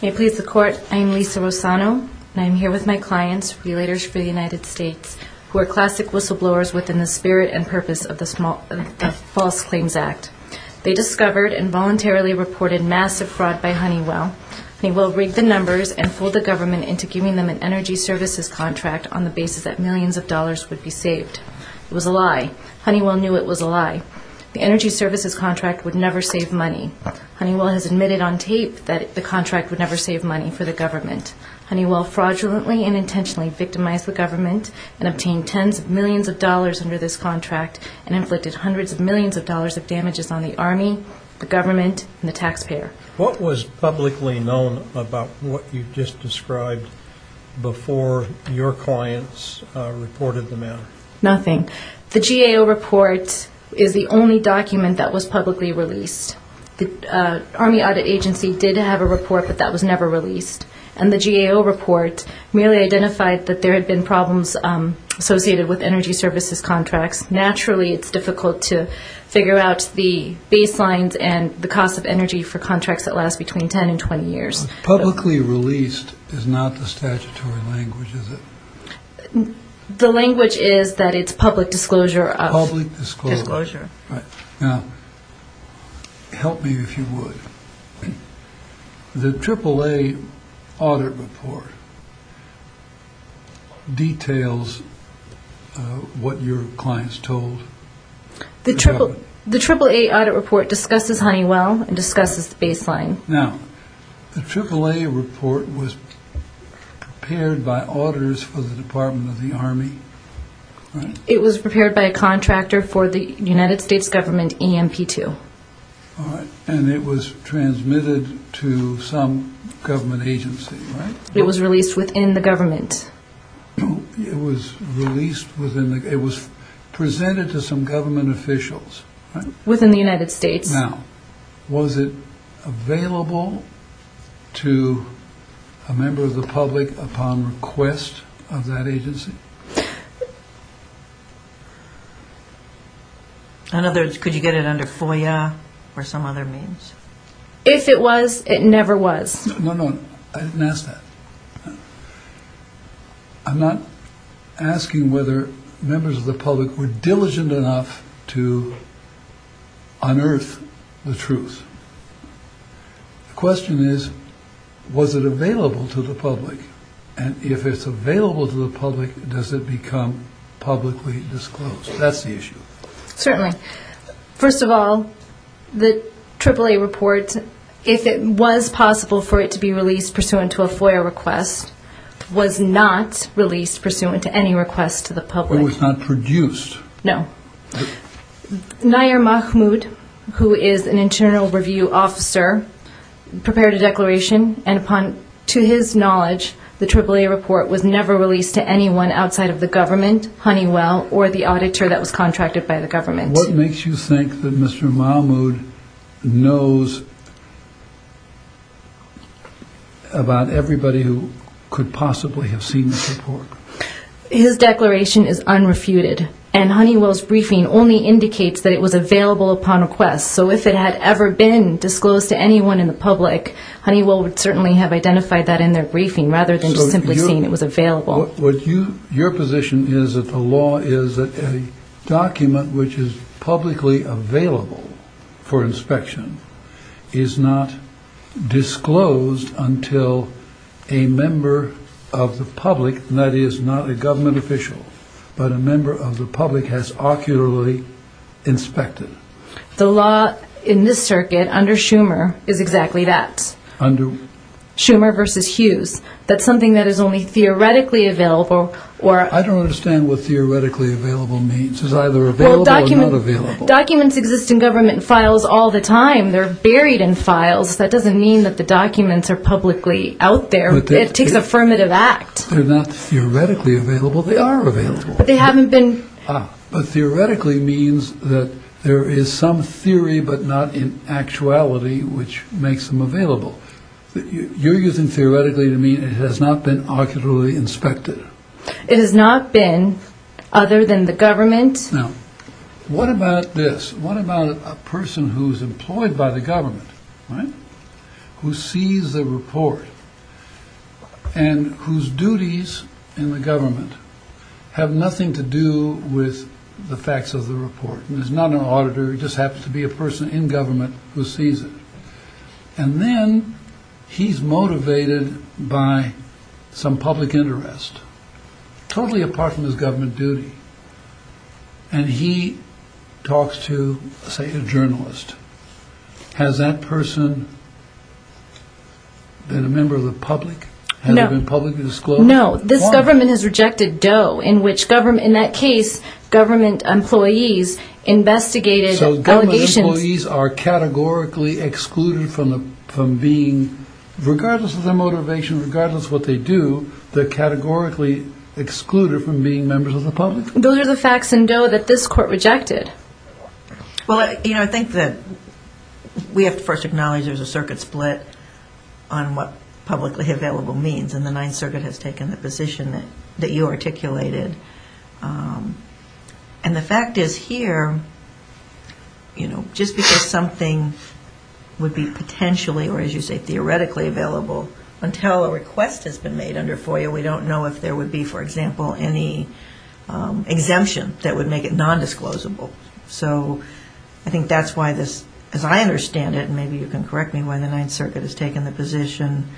May it please the court, I am Lisa Rossano and I am here with my clients, Relators for the United States, who are classic whistleblowers within the spirit and purpose of the False Claims Act. They discovered and voluntarily reported massive fraud by Honeywell. Honeywell rigged the numbers and fooled the government into giving them an energy services contract on the basis that millions of dollars would be saved. It was a lie. Honeywell knew it was a lie. The energy services contract would never save money. Honeywell has admitted on tape that the contract would never save money for the government. Honeywell fraudulently and intentionally victimized the government and obtained tens of millions of dollars under this contract and inflicted hundreds of millions of dollars of damages on the Army, the government, and the taxpayer. What was publicly known about what you just described before your clients reported the matter? Nothing. The GAO report is the only document that was publicly released. The Army Audit Agency did have a report, but that was never released. And the GAO report merely identified that there had been problems associated with energy services contracts. Naturally it's difficult to figure out the baselines and the cost of energy for contracts that last between 10 and 20 years. Publicly released is not the statutory language, is it? The language is that it's public disclosure. Public disclosure. Help me if you would. The AAA audit report details what your clients told? The AAA audit report discusses Honeywell and discusses the baseline. Now, the AAA report was prepared by auditors for the Department of the Army? It was prepared by a contractor for the United States government, EMP2. And it was transmitted to some government agency? It was released within the government. It was presented to some government officials? Within the United States. Now, was it available to a member of the public upon request of that agency? Could you get it under FOIA or some other means? If it was, it never was. No, no, I didn't ask that. I'm not asking whether members of the public were diligent enough to unearth the truth. The question is was it available to the public? And if it's available to the public, does it become publicly disclosed? That's the issue. Certainly. First of all, the AAA report, if it was possible for it to be released pursuant to a FOIA request, was not released pursuant to any request to the public. It was not produced? No. Nayir Mahmoud, who is an internal review officer, prepared a declaration. And to his knowledge, the AAA report was never released to anyone outside of the government, Honeywell, or the auditor that was contracted by the government. What makes you think that Mr. Mahmoud knows about everybody who could possibly have seen the report? His declaration is unrefuted. And Honeywell's briefing only indicates that it was available upon request. So if it had ever been disclosed to anyone in the public, Honeywell would certainly have identified that in their briefing, rather than just simply saying it was available. Your position is that the law is that a document which is publicly available for inspection is not disclosed until a member of the public, and that is not a government official, but a member of the public has ocularly inspected. The law in this circuit, under Schumer, is exactly that. Schumer versus Hughes. That's something that is only theoretically available. I don't understand what theoretically available means. It's either available or not available. Documents exist in government files all the time. They're buried in files. That doesn't mean that the documents are publicly out there. It takes affirmative act. They're not theoretically available. They are available. But they haven't been inspected. Ah, but theoretically means that there is some theory but not in actuality which makes them available. You're using theoretically to mean it has not been ocularly inspected. It has not been, other than the government Now, what about this? What about a person who's employed by the government, right? Who sees the report and whose duties in the government have nothing to do with the facts of the report and is not an auditor. He just happens to be a person in government who sees it. And then he's motivated by some public interest. Totally apart from his government duty. And he talks to say, a journalist. Has that person been a member of the public? No. No, this government has rejected Doe. In that case, government employees investigated So government employees are categorically excluded from being regardless of their motivation, regardless of what they do they're categorically excluded from being members of the public? Those are the facts in Doe that this court rejected. We have to first acknowledge there's a circuit split on what publicly available means. And the Ninth Circuit has taken the position that you articulated And the fact is here, you know, just because something would be potentially, or as you say, theoretically available until a request has been made under FOIA, we don't know if there would be for example, any exemption that would make it non-disclosable. So I think that's why this, as I understand it and maybe you can correct me why the Ninth Circuit has taken the position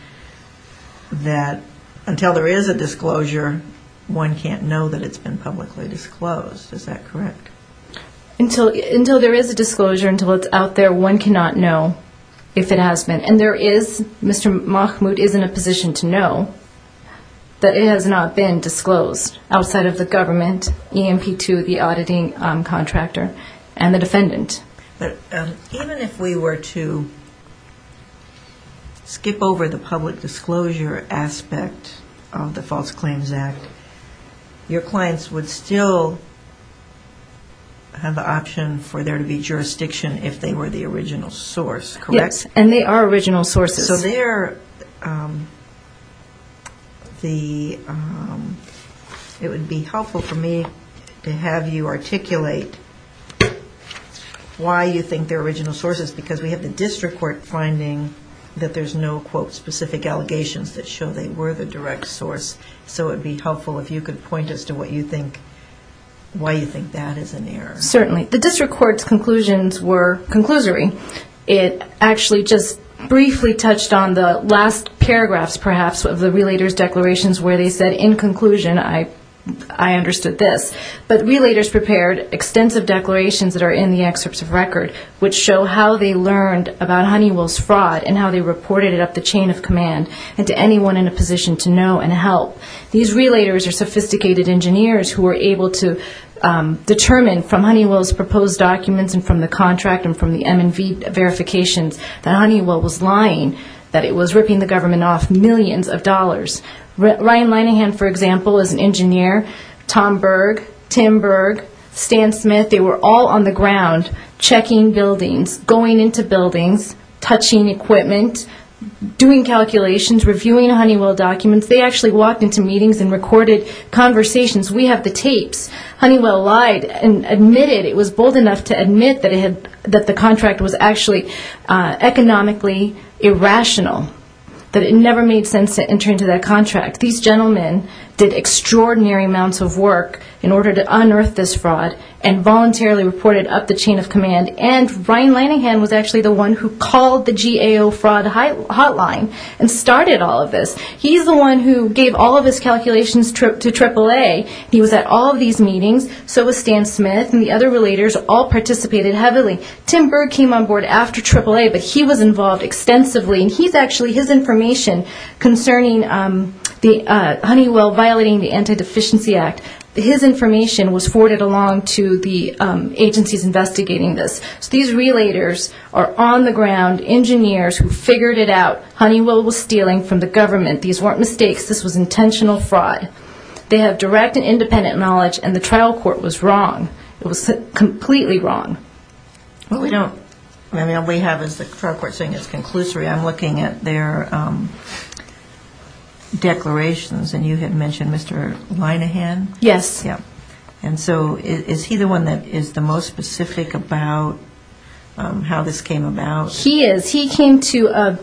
that until there is a disclosure, one can't know that it's been publicly disclosed. Is that correct? Until there is a disclosure, until it's out there, one cannot know if it has been And there is, Mr. Mahmoud is in a position to know that it has not been disclosed outside of the government EMP2, the auditing contractor, and the defendant. Even if we were to skip over the public disclosure aspect of the False Claims Act, your clients would still have the option for there to be jurisdiction if they were the original source, correct? Yes, and they are original sources. It would be helpful for me to have you articulate why you think they're original sources because we have the District Court finding that there's no quote specific allegations that show they were the direct source. So it would be helpful if you could point us to why you think that is an error. Certainly. The District Court's conclusions were conclusory. It actually just briefly touched on the last paragraphs perhaps of the Relators' Declarations where they said in conclusion, I understood this but Relators prepared extensive declarations that are in the excerpts of record which show how they learned about Honeywell's fraud and how they reported it up the chain of command and to anyone in a position to know and help. These Relators are sophisticated engineers who were able to determine from Honeywell's proposed documents and from the contract and from the M&V verifications that Honeywell was lying, that it was ripping the government off millions of dollars. Ryan Linehan, for example, is an expert. Tim Berg, Stan Smith, they were all on the ground checking buildings, going into buildings, touching equipment, doing calculations, reviewing Honeywell documents. They actually walked into meetings and recorded conversations. We have the tapes. Honeywell lied and admitted it was bold enough to admit that the contract was actually economically irrational. That it never made sense to enter into that contract. These gentlemen did their part to unearth this fraud and voluntarily reported up the chain of command and Ryan Linehan was actually the one who called the GAO fraud hotline and started all of this. He's the one who gave all of his calculations to AAA. He was at all of these meetings. So was Stan Smith and the other Relators all participated heavily. Tim Berg came on board after AAA but he was involved extensively and he's actually his information concerning Honeywell violating the Anti-Deficiency Act. His information was forwarded along to the agencies investigating this. So these Relators are on the ground, engineers who figured it out. Honeywell was stealing from the government. These weren't mistakes. This was intentional fraud. They have direct and independent knowledge and the trial court was wrong. It was completely wrong. I'm looking at their declarations and you had mentioned Mr. Linehan. Yes. Is he the one that is the most specific about how this came about? He is. He came to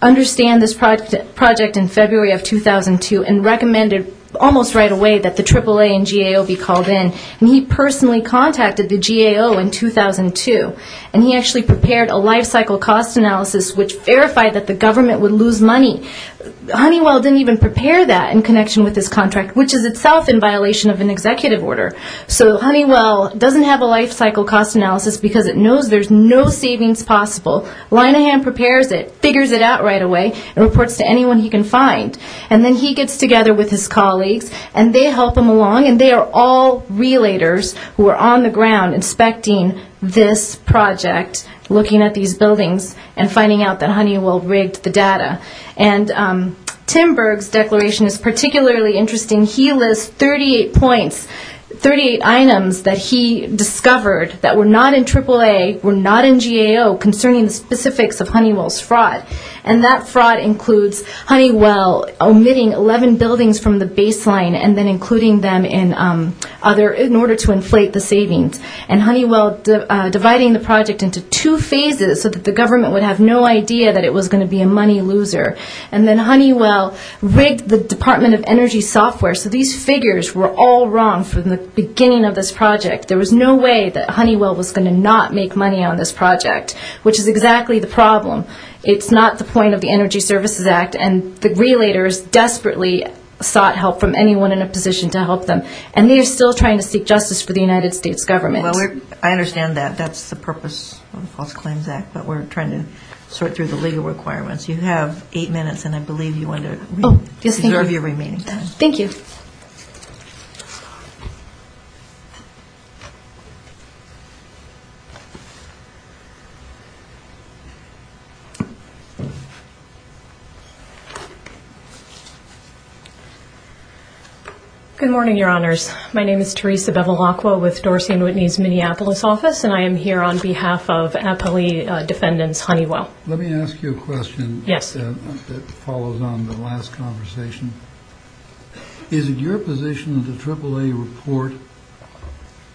understand this project in February of 2002 and recommended almost right away that the AAA and GAO be called in. He personally contacted the GAO in 2002 and he actually prepared a life cycle cost analysis which verified that the government would lose money. Honeywell didn't even prepare that in connection with this contract which is itself in violation of an executive order. So Honeywell doesn't have a life cycle cost analysis because it knows there's no savings possible. Linehan prepares it, figures it out right away and reports to anyone he can find. And then he gets together with his colleagues and they help him along and they are all Relators who are on the ground inspecting this project, looking at these buildings and finding out that Honeywell rigged the data. Tim Berg's declaration is particularly interesting. He lists 38 points, 38 items that he discovered that were not in AAA, were not in GAO concerning the specifics of Honeywell's fraud. And that fraud includes Honeywell omitting 11 buildings from the baseline and then including them in order to inflate the savings. And Honeywell dividing the project into two phases so that the government would have no idea that it was going to be a money loser. And then Honeywell rigged the Department of Energy software so these figures were all wrong from the beginning of this project. There was no way that Honeywell was going to not make money on this project, which is exactly the problem. It's not the point of the Energy Services Act and the Relators desperately sought help from anyone in a position to help them. And they are still trying to seek justice for the United States government. I understand that. That's the purpose of the False Claims Act, but we're trying to sort through the legal requirements. You have eight minutes and I believe you want to reserve your remaining time. Thank you. Good morning, Your Honors. My name is Dr. Li. I work for the U.S. Minneapolis office and I am here on behalf of Apolli Defendant's Honeywell. Let me ask you a question. Yes. It follows on the last conversation. Is it your position that the AAA report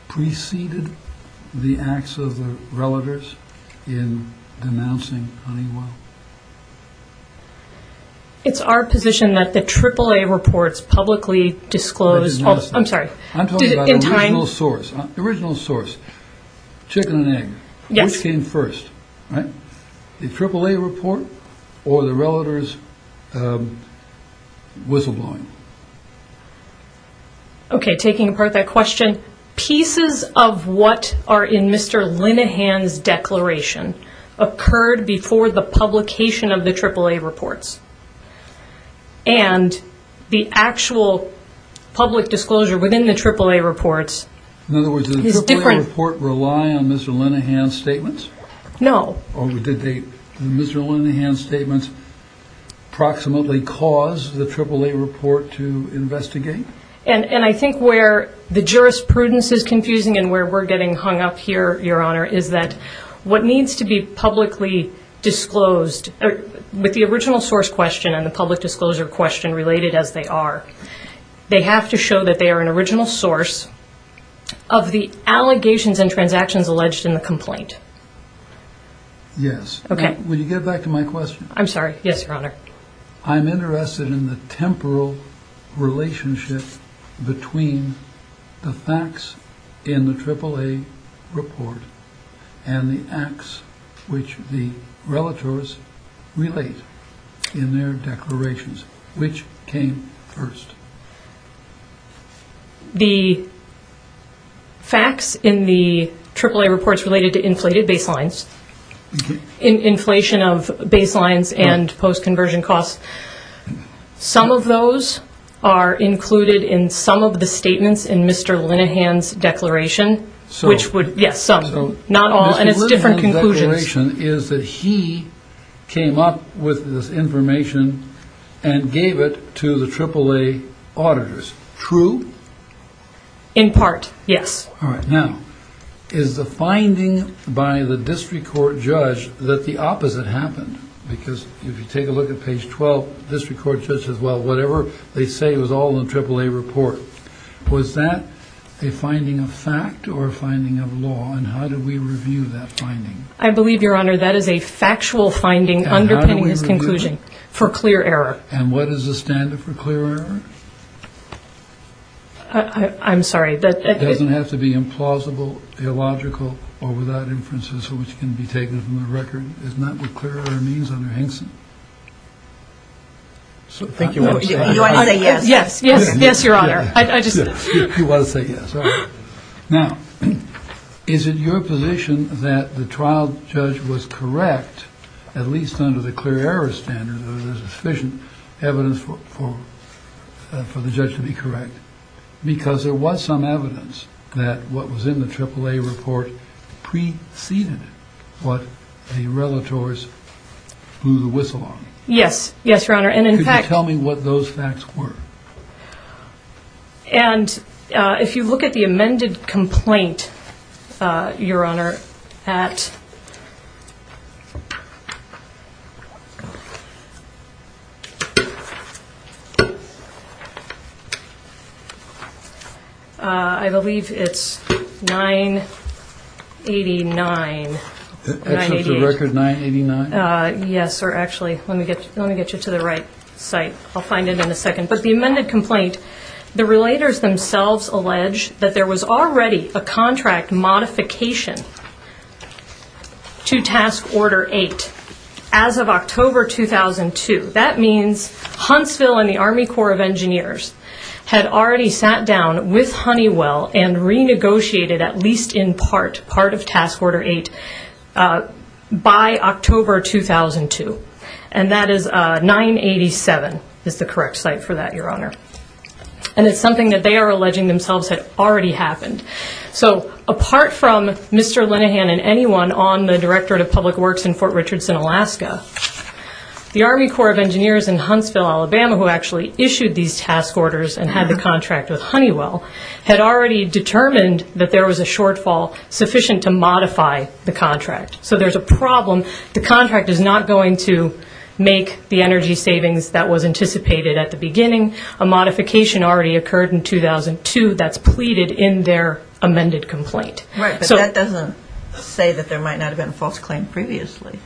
preceded the acts of the Relators in denouncing Honeywell? It's our position that the AAA reports publicly disclosed. I'm sorry. I'm talking about the original source. The original source, chicken and egg. Yes. Which came first? The AAA report or the Relators' whistleblowing? Okay, taking apart that question, pieces of what are in Mr. Linehan's declaration occurred before the publication of the AAA reports. And the actual public disclosure within the AAA reports rely on Mr. Linehan's statements? No. Did Mr. Linehan's statements approximately cause the AAA report to investigate? I think where the jurisprudence is confusing and where we're getting hung up here, Your Honor, is that what needs to be publicly disclosed with the original source question and the public disclosure question related as they are. They have to show that they are an original source of the allegations and transactions alleged in the complaint. Yes. Okay. Will you get back to my question? I'm sorry. Yes, Your Honor. I'm interested in the temporal relationship between the facts in the AAA report and the acts which the Relators' relate in their declarations. Which came first? The facts in the AAA reports related to inflated baselines, inflation of baselines and post-conversion costs, some of those are included in some of the statements in Mr. Linehan's declaration, which would, yes, some, not all, and it's different conclusions. Mr. Linehan's declaration is that he came up with this information and gave it to the AAA auditors. True? In part, yes. All right. Now, is the finding by the district court judge that the opposite happened? Because if you take a look at page 12, the district court judge says, well, whatever they say was all in the AAA report. Was that a finding of fact or a finding of law, and how do we review that finding? I believe, Your Honor, that is a factual finding underpinning his conclusion for clear error. And what is the standard for clear error? I'm sorry. It doesn't have to be implausible, illogical, or without inferences which can be taken from the record. Isn't that what clear error means, Under Henson? I think you want to say yes. Yes, Your Honor. You want to say yes. All right. Now, is it your position that the trial judge was correct at least under the clear error standard, or there's sufficient evidence for the judge to be correct, because there was some evidence that what was in the AAA report preceded what the relators blew the whistle on? Yes. Yes, Your Honor, and in fact... Could you tell me what those facts were? And if you look at the amended complaint, Your Honor, at I believe it's 989. Is that the record, 989? Yes, or actually, let me get you to the right site. I'll find it in a second. But the amended complaint, the relators themselves allege that there was already a contract modification to Task Order 8 as of October 2002. That means Huntsville and the Army Corps of Engineers had already sat down with Honeywell and renegotiated, at least in part, part of Task Order 8 by October 2002. And that is 987 is the correct site for that, Your Honor. And it's something that they are alleging themselves had already happened. So apart from Mr. Linehan and anyone on the Directorate of Public Works in Fort Richardson, Alaska, the Army Corps of Engineers in Huntsville, Alabama, who actually issued these task orders and had the contract with Honeywell, had already determined that there was a shortfall sufficient to modify the contract. So there's a problem. The contract is not going to make the energy savings that was anticipated at the beginning. A modification already occurred in 2002 that's pleaded in their amended complaint. Right, but that doesn't say that there might not have been a false claim previously.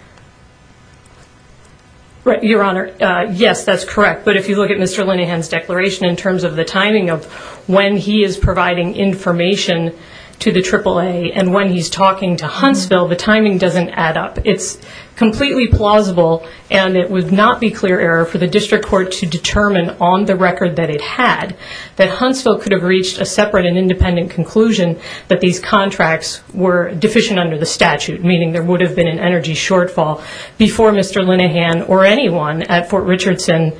Your Honor, yes, that's correct. But if you look at Mr. Linehan's declaration in terms of the timing of when he is providing information to the AAA and when he's talking to Huntsville, the timing doesn't add up. It's completely plausible and it would not be clear error for the district court to determine on the record that it had that Huntsville could have reached a separate and independent conclusion that these contracts were deficient under the statute, meaning there would have been an energy shortfall before Mr. Linehan or anyone at Fort Richardson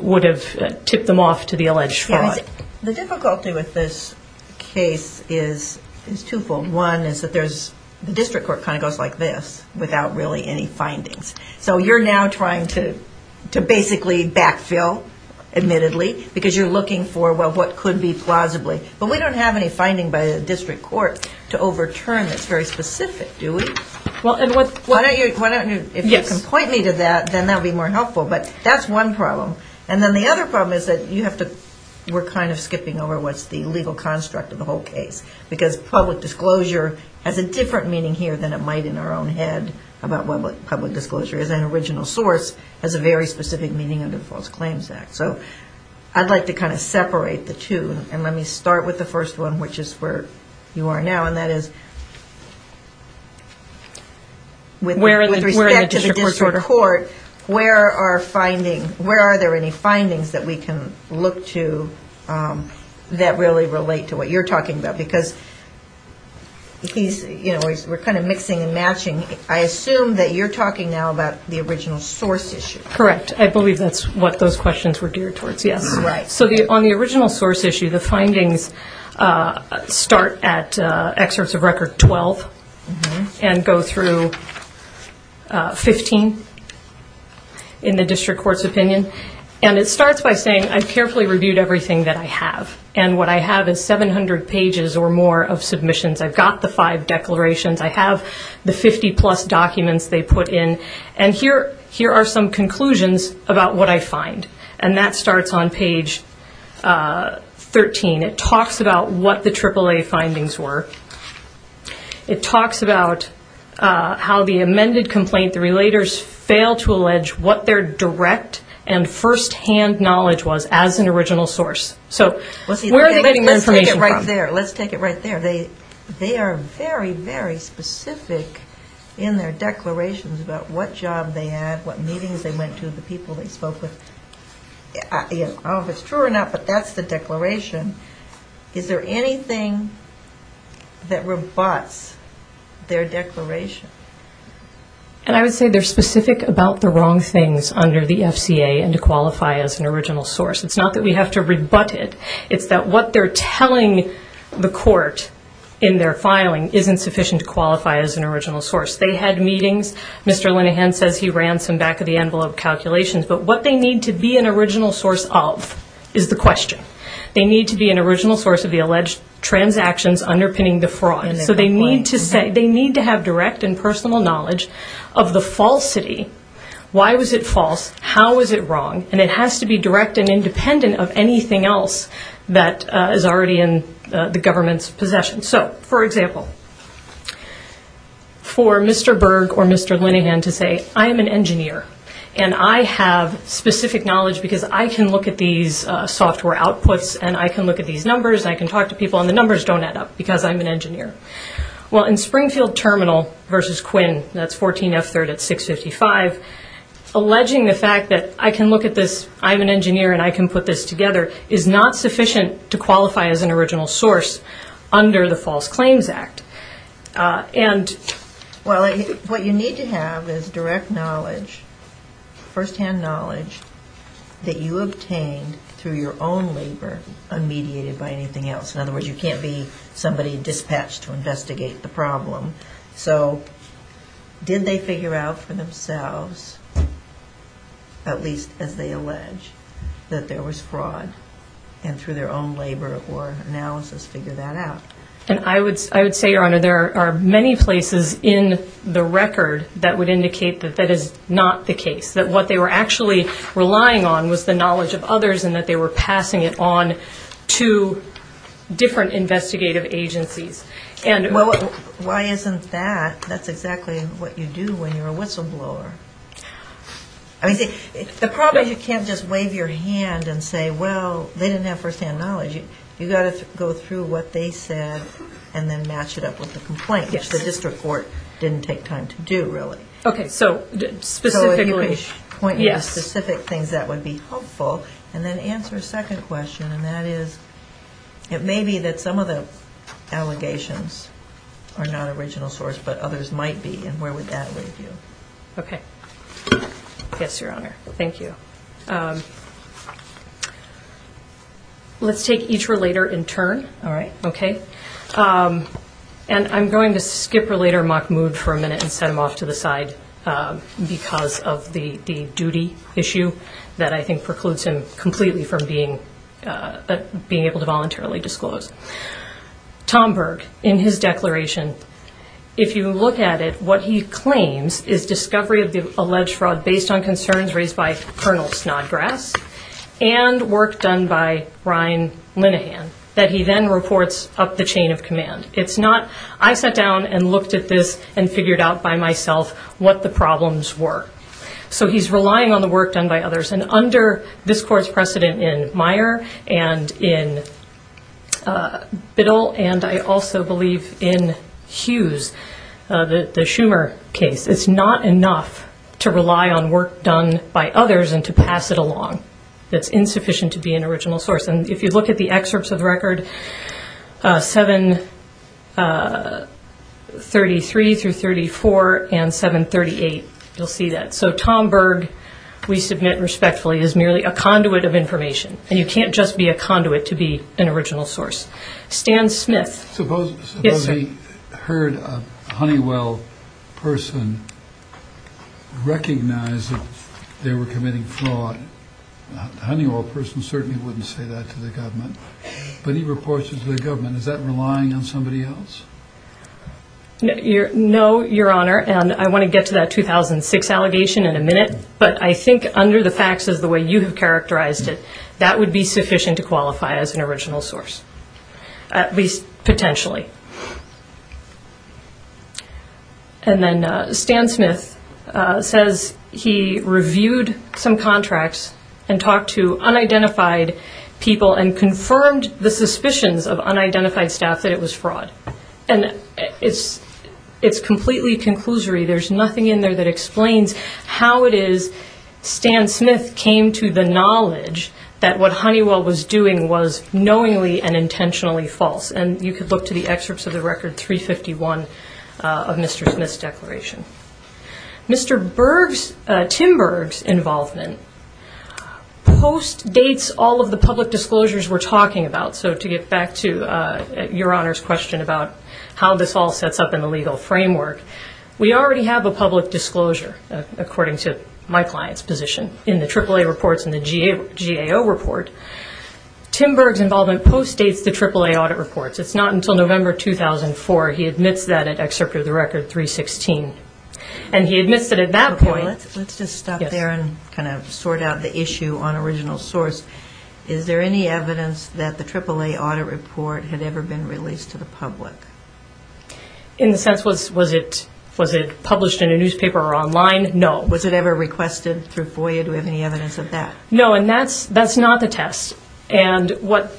would have tipped them off to the alleged fraud. The difficulty with this case is two-fold. One is that the district court kind of goes like this without really any findings. So you're now trying to basically backfill, admittedly, because you're looking for what could be plausibly. But we don't have any finding by the district court to overturn that's very specific, do we? If you can point me to that, then that would be more helpful. But that's one problem. The other problem is that we're kind of skipping over what's the legal construct of the whole case. Because public disclosure has a different meaning here than it might in our own head about what public disclosure is. An original source has a very specific meaning under the False Claims Act. I'd like to kind of separate the two. And let me start with the first one, which is where you are now, and that is with respect to the district court, where are findings, where are there any findings that we can look to that really relate to what you're talking about? Because we're kind of mixing and matching. I assume that you're talking now about the original source issue. Correct. I believe that's what those questions were geared towards, yes. So on the original source issue, the findings start at excerpts of record 12 and go through 15 in the district court's opinion. And it starts on page 13. I've got the five declarations. I have the 50-plus documents they put in. And here are some conclusions about what I find. And that starts on page 13. It talks about what the AAA findings were. It talks about how the amended complaint, the relators failed to allege what their direct and first-hand knowledge was as an original source. Let's take it right there. They are very, very specific in their declarations about what job they had, what meetings they went to, the people they spoke with. I don't know if it's true or not, but that's the declaration. Is there anything that rebuts their declaration? And I would say they're specific about the wrong things under the FCA and to qualify as an original source. It's not that we have to rebut it. It's that what they're telling the court in their filing isn't sufficient to qualify as an original source. They had meetings. Mr. Linehan says he ran some back-of-the-envelope calculations. But what they need to be an original source of is the question. They need to be an original source of the alleged transactions underpinning the fraud. So they need to have direct and personal knowledge of the falsity. Why was it false? How was it wrong? And it has to be direct and independent of anything else that is already in the government's possession. So, for example, for Mr. Berg or Mr. Linehan to say, I am an engineer and I have specific knowledge because I can look at these software outputs and I can look at these numbers and I can talk to people and the numbers don't add up because I'm an engineer. Well, in Springfield Terminal versus Quinn, that's 14F3rd at 655, alleging the fact that I can look at this, I'm an engineer and I can put this together is not sufficient to qualify as an original source under the False Claims Act. And... Well, what you need to have is direct knowledge, first-hand knowledge that you obtained through your own labor, unmediated by anything else. In other words, you can't be somebody dispatched to investigate the problem. So, did they figure out for themselves at least as they allege that there was fraud and through their own labor or analysis figure that out? And I would say, Your Honor, there are many places in the record that would indicate that that is not the case. That what they were actually relying on was the knowledge of others and that they were passing it on to different investigative agencies. Well, why isn't that? That's exactly what you do when you're a whistleblower. The problem is you can't just wave your hand and say, well, they didn't have first-hand knowledge. You've got to go through what they said and then match it up with the complaint, which the district court didn't take time to do, really. So, if you could point me to specific things that would be helpful, and then answer a second question, and that is it may be that some of the allegations are not original source, but others might be, and where would that leave you? Okay. Yes, Your Honor. Thank you. Let's take each relator in turn. All right. Okay. And I'm going to skip Relator Mahmoud for a minute and send him off to the side because of the duty issue that I think precludes him completely from being able to voluntarily disclose. Tom Berg, in his declaration, if you look at it, what he claims is discovery of the alleged fraud based on concerns raised by Colonel Snodgrass and work done by Ryan Linehan that he then reports up the chain of command. It's not, I sat down and looked at this and figured out by myself what the problems were. So he's relying on the work done by others and under this Court's precedent in Meyer and in Biddle and I also believe in Hughes, the Schumer case, it's not enough to rely on work done by others and to pass it along. It's insufficient to be an original source. And if you look at the excerpts of the record 733 through 34 and 738, you'll see that. So Tom Berg, we submit respectfully, is merely a conduit of information. And you can't just be a conduit to be an original source. Stan Smith. Suppose he heard a Honeywell person recognize that they were committing fraud. A Honeywell person certainly wouldn't say that to the government. But he reports it to the government. Is that relying on somebody else? No, Your Honor, and I want to get to that 2006 allegation in a minute, but I think under the facts as the way you have characterized it, that would be sufficient to qualify as an original source. At least potentially. And then Stan Smith says he reviewed some contracts and talked to unidentified people and confirmed the suspicions of unidentified staff that it was fraud. And it's completely conclusory. There's nothing in there that explains how it is Stan Smith came to the knowledge that what Honeywell was doing was knowingly and intentionally false. And you can look to the excerpts of the record 351 of Mr. Smith's declaration. Mr. Berg's, Tim Berg's involvement postdates all of the public disclosures we're talking about. So to get back to Your Honor's question about how this all sets up in the legal framework, we already have a public disclosure, according to my client's position, in the AAA reports and the GAO report. Tim Berg's involvement postdates the AAA audit reports. It's not until November 2004 he admits that at Excerpt of the Record 316. And he admits that at that point Let's just stop there and kind of sort out the issue on original source. Is there any evidence that the AAA audit report had ever been released to the public? In the sense, was it published in a newspaper or online? No. Was it ever requested through FOIA? Do we have any evidence of that? No, and that's not the test. And what,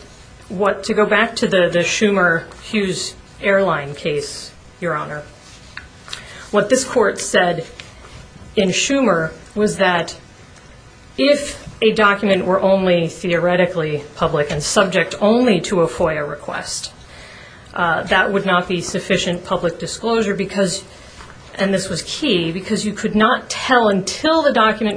to go back to the Schumer-Hughes airline case, Your Honor, what this court said in Schumer was that if a document were only theoretically public and subject only to a FOIA request, that would not be sufficient public disclosure because, and this was key, because you could not tell until the document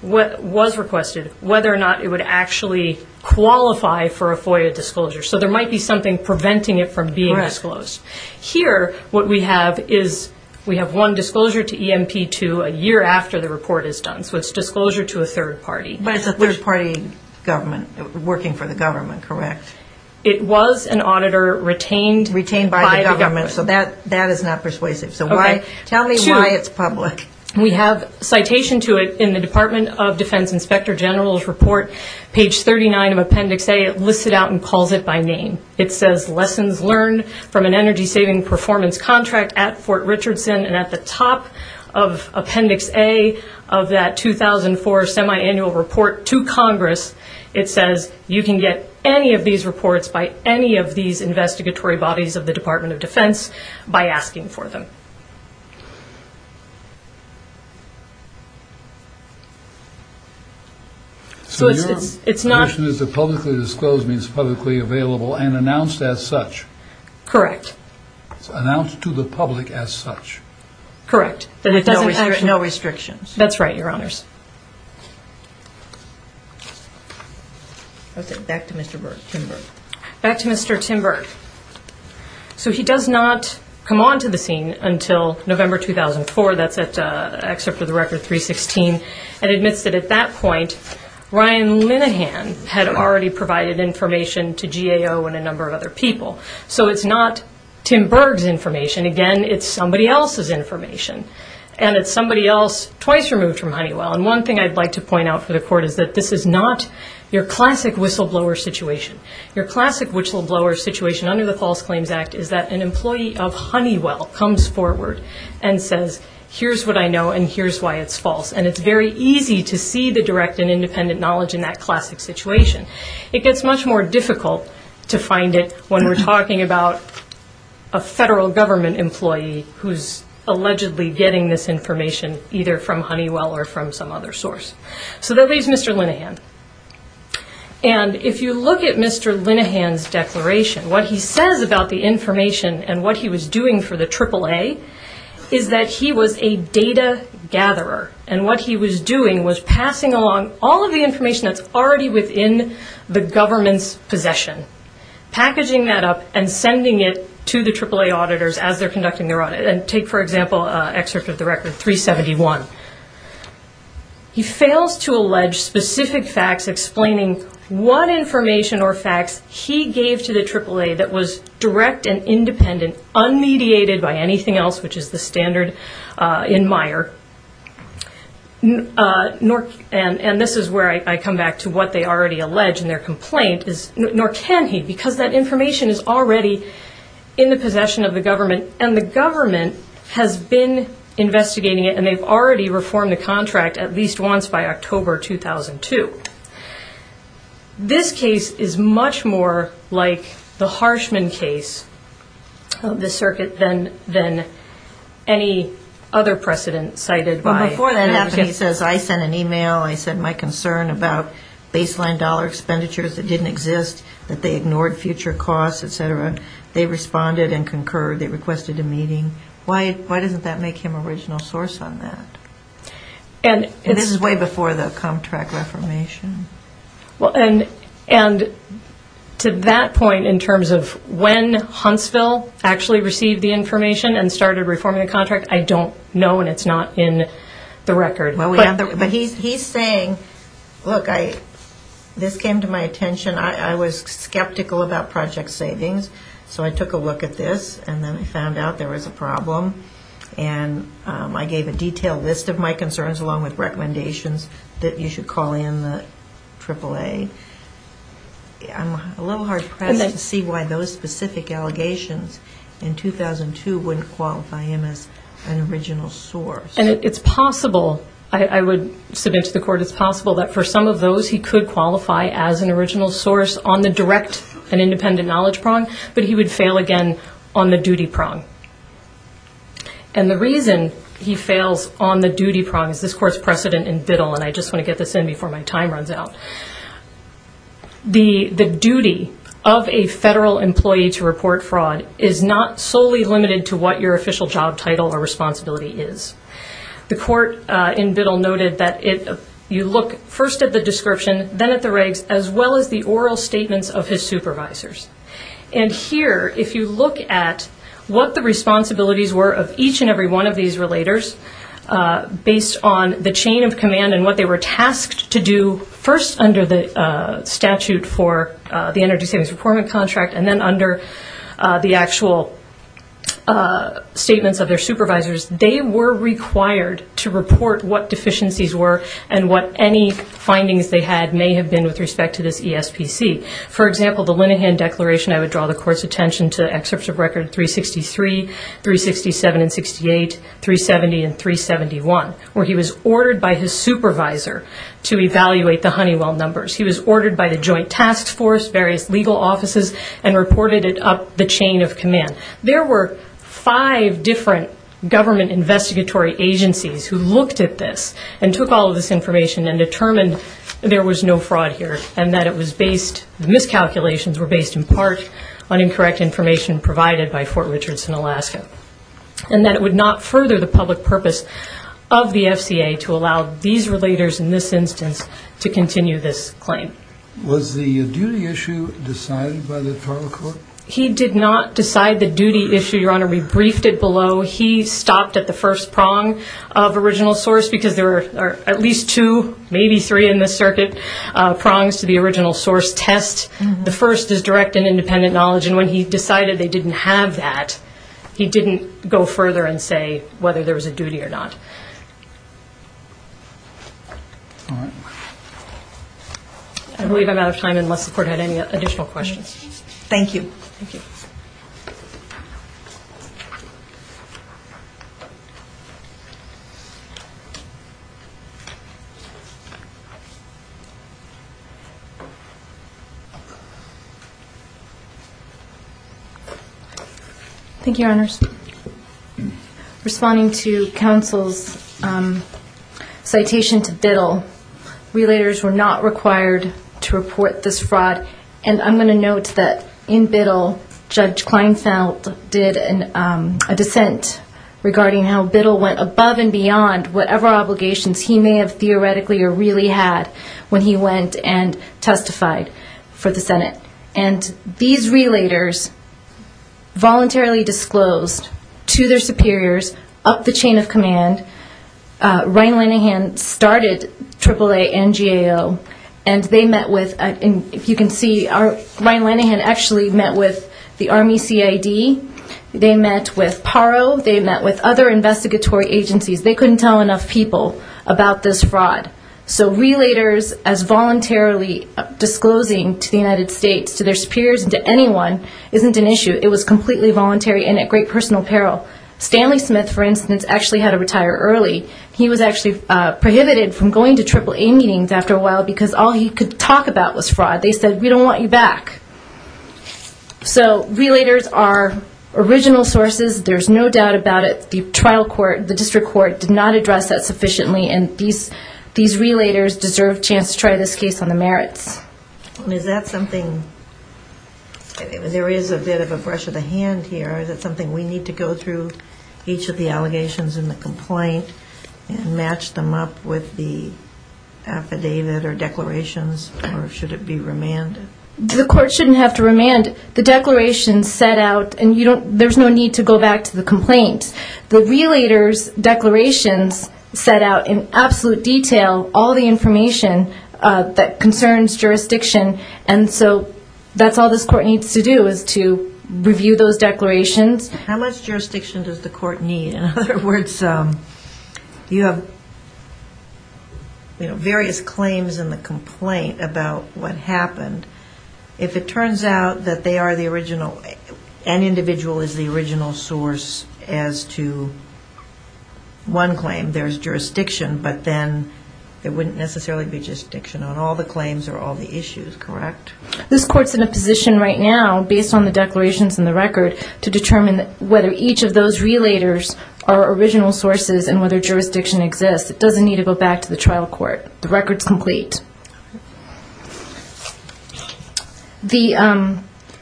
was requested whether or not it would actually qualify for a FOIA disclosure. So there might be something preventing it from being disclosed. Here, what we have is we have one disclosure to EMP2 a year after the report is done. So it's disclosure to a third party. But it's a third party government working for the government, correct? It was an auditor retained by the government. So that is not persuasive. Tell me why it's public. We have citation to it in the Department of Defense Inspector General's report page 39 of Appendix A. It lists it out and calls it by name. It says, lessons learned from an energy-saving performance contract at Fort Richardson, and at the top of Appendix A of that 2004 semiannual report to Congress, it says you can get any of these reports by any of these investigatory bodies of the Department of Defense by asking for them. So your condition is that publicly disclosed means publicly available and announced as such. Correct. It's announced to the public as such. Correct. No restrictions. That's right, Your Honors. Back to Mr. Tim Berg. So he does not come onto the scene until November 2004. That's at Excerpt of the Record 316. It admits that at that point Ryan Linehan had already provided information to GAO and a number of other people. So it's not Tim Berg's information. Again, it's somebody else's information. And it's somebody else twice removed from Honeywell. And one thing I'd like to point out for the Court is that this is not your classic whistleblower situation. Your classic whistleblower situation under the False Claims Act is that an employee of Honeywell comes forward and says, here's what I know and here's why it's false. And it's very easy to see the direct and independent knowledge in that classic situation. It gets much more difficult to find it when we're talking about a federal government employee who's allegedly getting this information either from Honeywell or from some other source. So that leaves Mr. Linehan. And if you look at Mr. Linehan's declaration, what he says about the information and what he was doing for the AAA is that he was a data gatherer. And what he was doing was passing along all of the information that's already within the government's possession. Packaging that up and sending it to the AAA auditors as they're conducting their audit. Take, for example, excerpt of the record 371. He fails to allege specific facts explaining what information or facts he gave to the AAA that was direct and independent, unmediated by anything else, which is the standard in Meyer. And this is where I come back to what they already allege in their complaint. Nor can he, because that information is already in the possession of the government, and the government has been investigating it, and they've already reformed the contract at least once by October 2002. This case is much more like the Harshman case, the circuit, than any other precedent cited by the AAA. Well, before that happened, he says, I sent an e-mail, I said my concern about the contract didn't exist, that they ignored future costs, et cetera. They responded and concurred. They requested a meeting. Why doesn't that make him original source on that? And this is way before the contract reformation. And to that point, in terms of when Huntsville actually received the information and started reforming the contract, I don't know, and it's not in the record. But he's saying, look, this came to my attention. I was skeptical about project savings, so I took a look at this, and then I found out there was a problem. And I gave a detailed list of my concerns, along with recommendations that you should call in the AAA. I'm a little hard-pressed to see why those specific allegations in 2002 wouldn't qualify him as an original source. And it's possible, I would submit to the court, it's possible that for some of those, he could qualify as an original source on the direct and independent knowledge prong, but he would fail again on the duty prong. And the reason he fails on the duty prong is this court's precedent in Biddle, and I just want to get this in before my time runs out. The duty of a federal employee to report fraud is not solely limited to what your official job title or responsibility is. The court in Biddle noted that you look first at the description, then at the regs, as well as the oral statements of his supervisors. And here, if you look at what the responsibilities were of each and every one of these relators based on the chain of command and what they were tasked to do, first under the statute for the Energy Savings Reportment Contract, and then under the actual statements of their supervisors, they were required to report what deficiencies were and what any findings they had may have been with respect to this ESPC. For example, the Linehan Declaration, I would draw the court's attention to excerpts of record 363, 367 and 68, 370 and 371, where he was ordered by his supervisor to evaluate the Honeywell numbers. He was ordered by the joint task force, various legal offices, and reported it up the chain of command. There were five different government investigatory agencies who looked at this and took all of this information and determined there was no fraud here and that it was based, the miscalculations were based in part on incorrect information provided by Fort Richardson, Alaska. And that it would not further the public purpose of the FCA to allow these relators in this instance to continue this claim. Was the duty issue decided by the duty issue? Your Honor, we briefed it below. He stopped at the first prong of original source because there are at least two, maybe three in this circuit, prongs to the original source test. The first is direct and independent knowledge, and when he decided they didn't have that, he didn't go further and say whether there was a duty or not. I believe I'm out of time unless the court had any additional questions. Thank you. Thank you, Your Honors. Responding to counsel's citation to Biddle, relators were not required to report this fraud, and I'm going to note that in Biddle, Judge Kleinfeld did a dissent regarding how Biddle went above and beyond whatever obligations he may have theoretically or really had when he went and testified for the Senate. And these relators voluntarily disclosed to their superiors, up the chain of command, Ryan Linehan started AAA and GAO and they met with, if you can see, Ryan Linehan actually met with the Army CID, they met with PARO, they met with other investigatory agencies. They couldn't tell enough people about this fraud. So relators as voluntarily disclosing to the United States, to their superiors and to anyone isn't an issue. It was completely voluntary and at great personal peril. Stanley Smith, for instance, actually had to retire early. He was actually prohibited from going to AAA meetings after a while because all he could talk about was fraud. They said, we don't want you back. So relators are original sources. There's no doubt about it. The trial court, the district court did not address that sufficiently and these relators deserve a chance to try this case on the merits. There is a bit of a brush of the hand here. Is it something we need to go through each of the allegations in the complaint and match them up with the affidavit or declarations or should it be remanded? The court shouldn't have to remand. The declarations set out and there's no need to go back to the complaint. The relators' declarations set out in absolute detail all the information that concerns jurisdiction and so that's all this court needs to do is to review those declarations. How much jurisdiction does the court need? In other words, you have various claims in the complaint about what happened. If it turns out that they are the original and individual is the original source as to one claim, there's jurisdiction but then it wouldn't necessarily be jurisdiction on all the claims or all the issues, correct? This court's in a position right now based on the declarations in the record to determine whether each of those relators are original sources and whether jurisdiction exists. It doesn't need to go back to the trial court. The record's complete.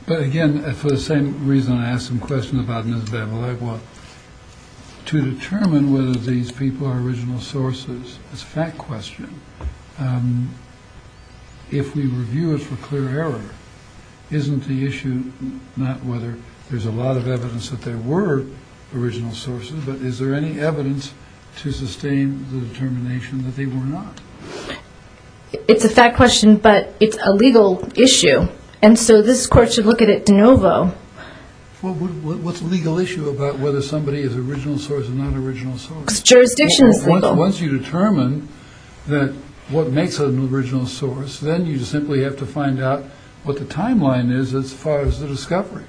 But again, for the same reason I asked some questions about Ms. Bevelle, to determine whether these people are original sources is a fact question. If we review it for clear error, isn't the issue not whether there's a lot of evidence that they were original sources but is there any evidence to sustain the determination that they were not? It's a fact question but it's a legal issue and so this court should look at it de novo. What's the legal issue about whether somebody is original source or not original source? Because jurisdiction is legal. Once you determine that what makes an original source, then you simply have to find out what the timeline is as far as the discovery.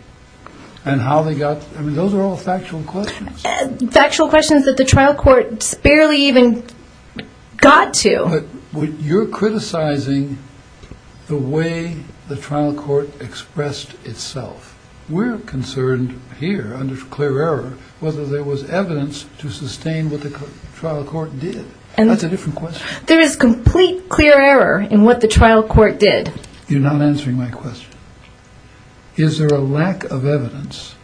Those are all factual questions. Factual questions that the trial court barely even got to. You're criticizing the way the trial court expressed itself. We're concerned here under clear error whether there was evidence to sustain what the trial court did. That's a different question. There is complete clear error in what the trial court did. You're not answering my question. Is there a lack of evidence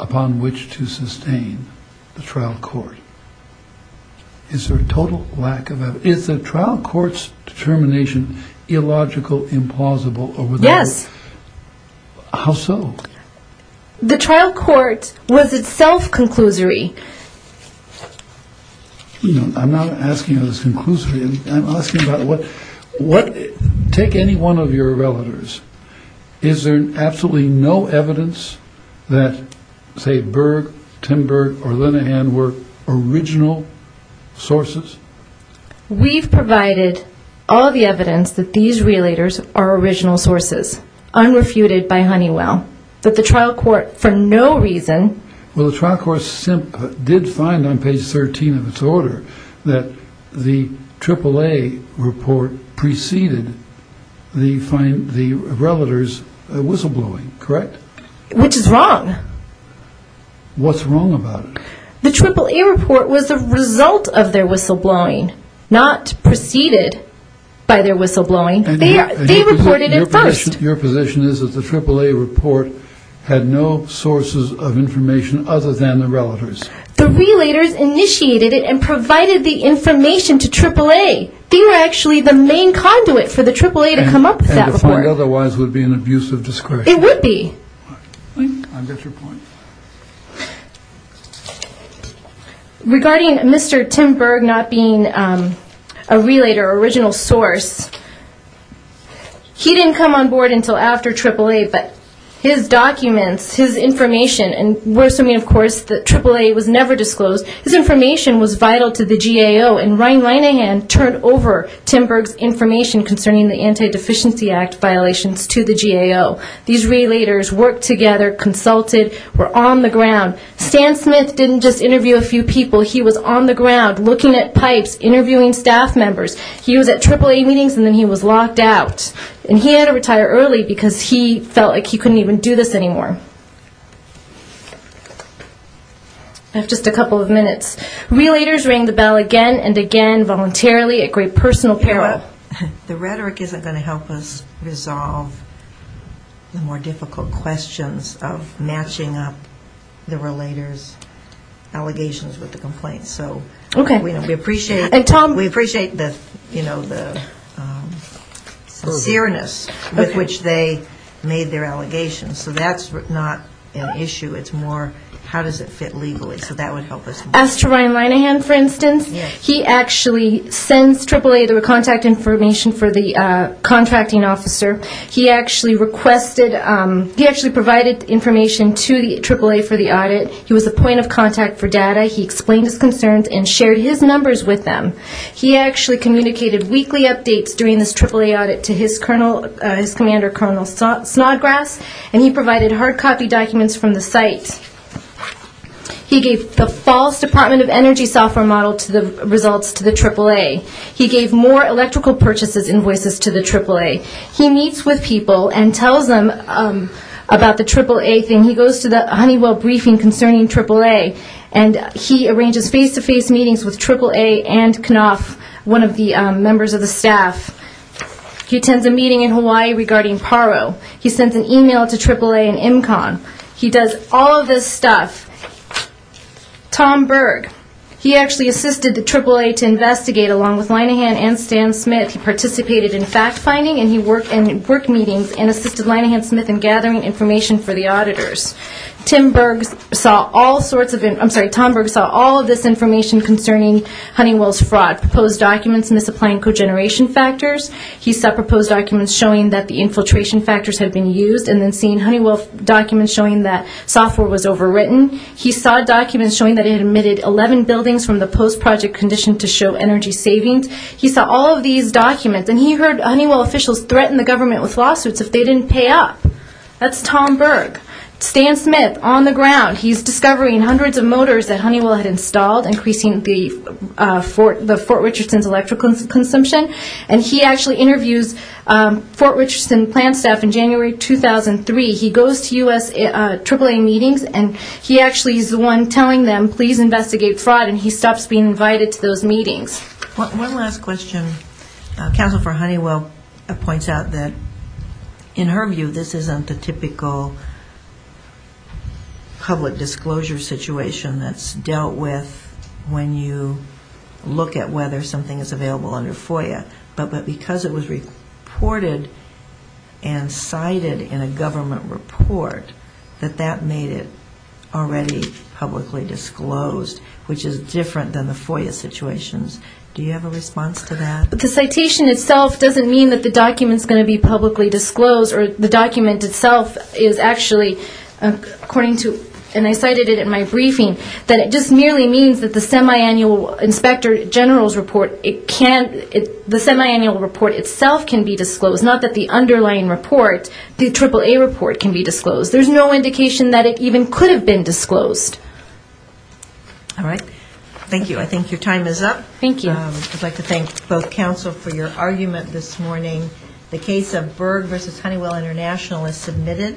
upon which to sustain the trial court? Is there a total lack of evidence? Is the trial court's determination illogical, implausible? Yes. How so? The trial court was itself conclusory. I'm not asking about its conclusory. I'm asking about what, take any one of your relatives. Is there absolutely no evidence that say Berg, Tim Berg, or Linehan were original sources? We've provided all the evidence that these relators are original sources unrefuted by Honeywell. But the trial court for no reason. Well the trial court did find on page 13 of its order that the AAA report preceded the relators whistleblowing, correct? Which is wrong. What's wrong about it? The AAA report was the result of their whistleblowing, not preceded by their whistleblowing. They reported it first. Your position is that the AAA report had no sources of information other than the relators? The relators initiated it and provided the information to AAA. They were actually the main conduit for the AAA to come up with that report. Otherwise it would be an abuse of discretion. It would be. Regarding Mr. Tim Berg not being a relator, original source, he didn't come on board until after AAA but his documents, his information, and we're assuming of course that AAA was never disclosed. His information was vital to the GAO and Ryan Linehan turned over Tim Berg's information concerning the Anti-Deficiency Act violations to the GAO. These relators worked together, consulted, were on the ground. Stan Smith didn't just interview a few people. He was on the ground looking at pipes, interviewing staff members. He was at AAA meetings and then he was locked out. And he had to retire early because he felt like he couldn't even do this anymore. I have just a couple of minutes. Relators rang the bell again and again voluntarily at great personal peril. The rhetoric isn't going to help us resolve the more difficult questions of matching up the relators' allegations with the complaints. We appreciate the sincereness with which they made their allegations. So that's not an issue. It's more how does it fit legally. So that would help us. As to Ryan Linehan, for instance, he actually sends AAA the contact information for the contracting officer. He actually requested, he actually provided information to the AAA for the audit. He was a point of contact for data. He explained his concerns and shared his numbers with them. He actually communicated weekly updates during this AAA audit to his commander, Colonel Snodgrass, and he provided hard copy documents from the site. He gave the false Department of Energy software model results to the AAA. He gave more electrical purchases invoices to the AAA. He meets with people and tells them about the AAA thing. He goes to the Honeywell briefing concerning AAA and he arranges face-to-face meetings with AAA and Knopf, one of the members of the staff. He attends a meeting in Hawaii regarding PARO. He sends an email to AAA and Imcon. He does all of this stuff. Tom Berg, he actually assisted the AAA to investigate along with Linehan and Stan Smith. He participated in fact finding and he worked in work meetings and assisted Linehan Smith in gathering information for the auditors. Tim Berg saw all sorts of, I'm sorry, Tom Berg saw all of this information concerning Honeywell's fraud, proposed documents misapplying cogeneration factors. He saw proposed documents showing that the infiltration factors had been used and then seeing Honeywell documents showing that software was overwritten. He saw documents showing that it emitted 11 buildings from the post-project condition to show energy savings. He saw all of these documents and he heard Honeywell officials threaten the government with lawsuits if they didn't pay up. That's Tom Berg. Stan Smith on the ground. He's discovering hundreds of motors that Honeywell had installed, increasing the Fort Richardson's electrical consumption. And he actually interviews Fort Richardson plan staff in January 2003. He goes to US AAA meetings and he actually is the one telling them please investigate fraud and he stops being invited to those meetings. One last question. Counsel for Honeywell points out that in her view this isn't the typical public disclosure situation that's dealt with when you look at whether something is available under FOIA. But because it was reported and cited in a government report, that that made it already publicly disclosed, which is different than the FOIA situations. Do you have a response to that? The citation itself doesn't mean that the document is going to be publicly disclosed or the document itself is actually, according to, and I cited it in my briefing, that it just merely means that the semiannual inspector general's report it can't, the semiannual report itself can be disclosed. Not that the underlying report, the AAA report can be disclosed. There's no indication that it even could have been disclosed. All right. Thank you. I think your time is up. Thank you. I'd like to thank both counsel for your argument this morning. The case of Berg versus Honeywell International is submitted.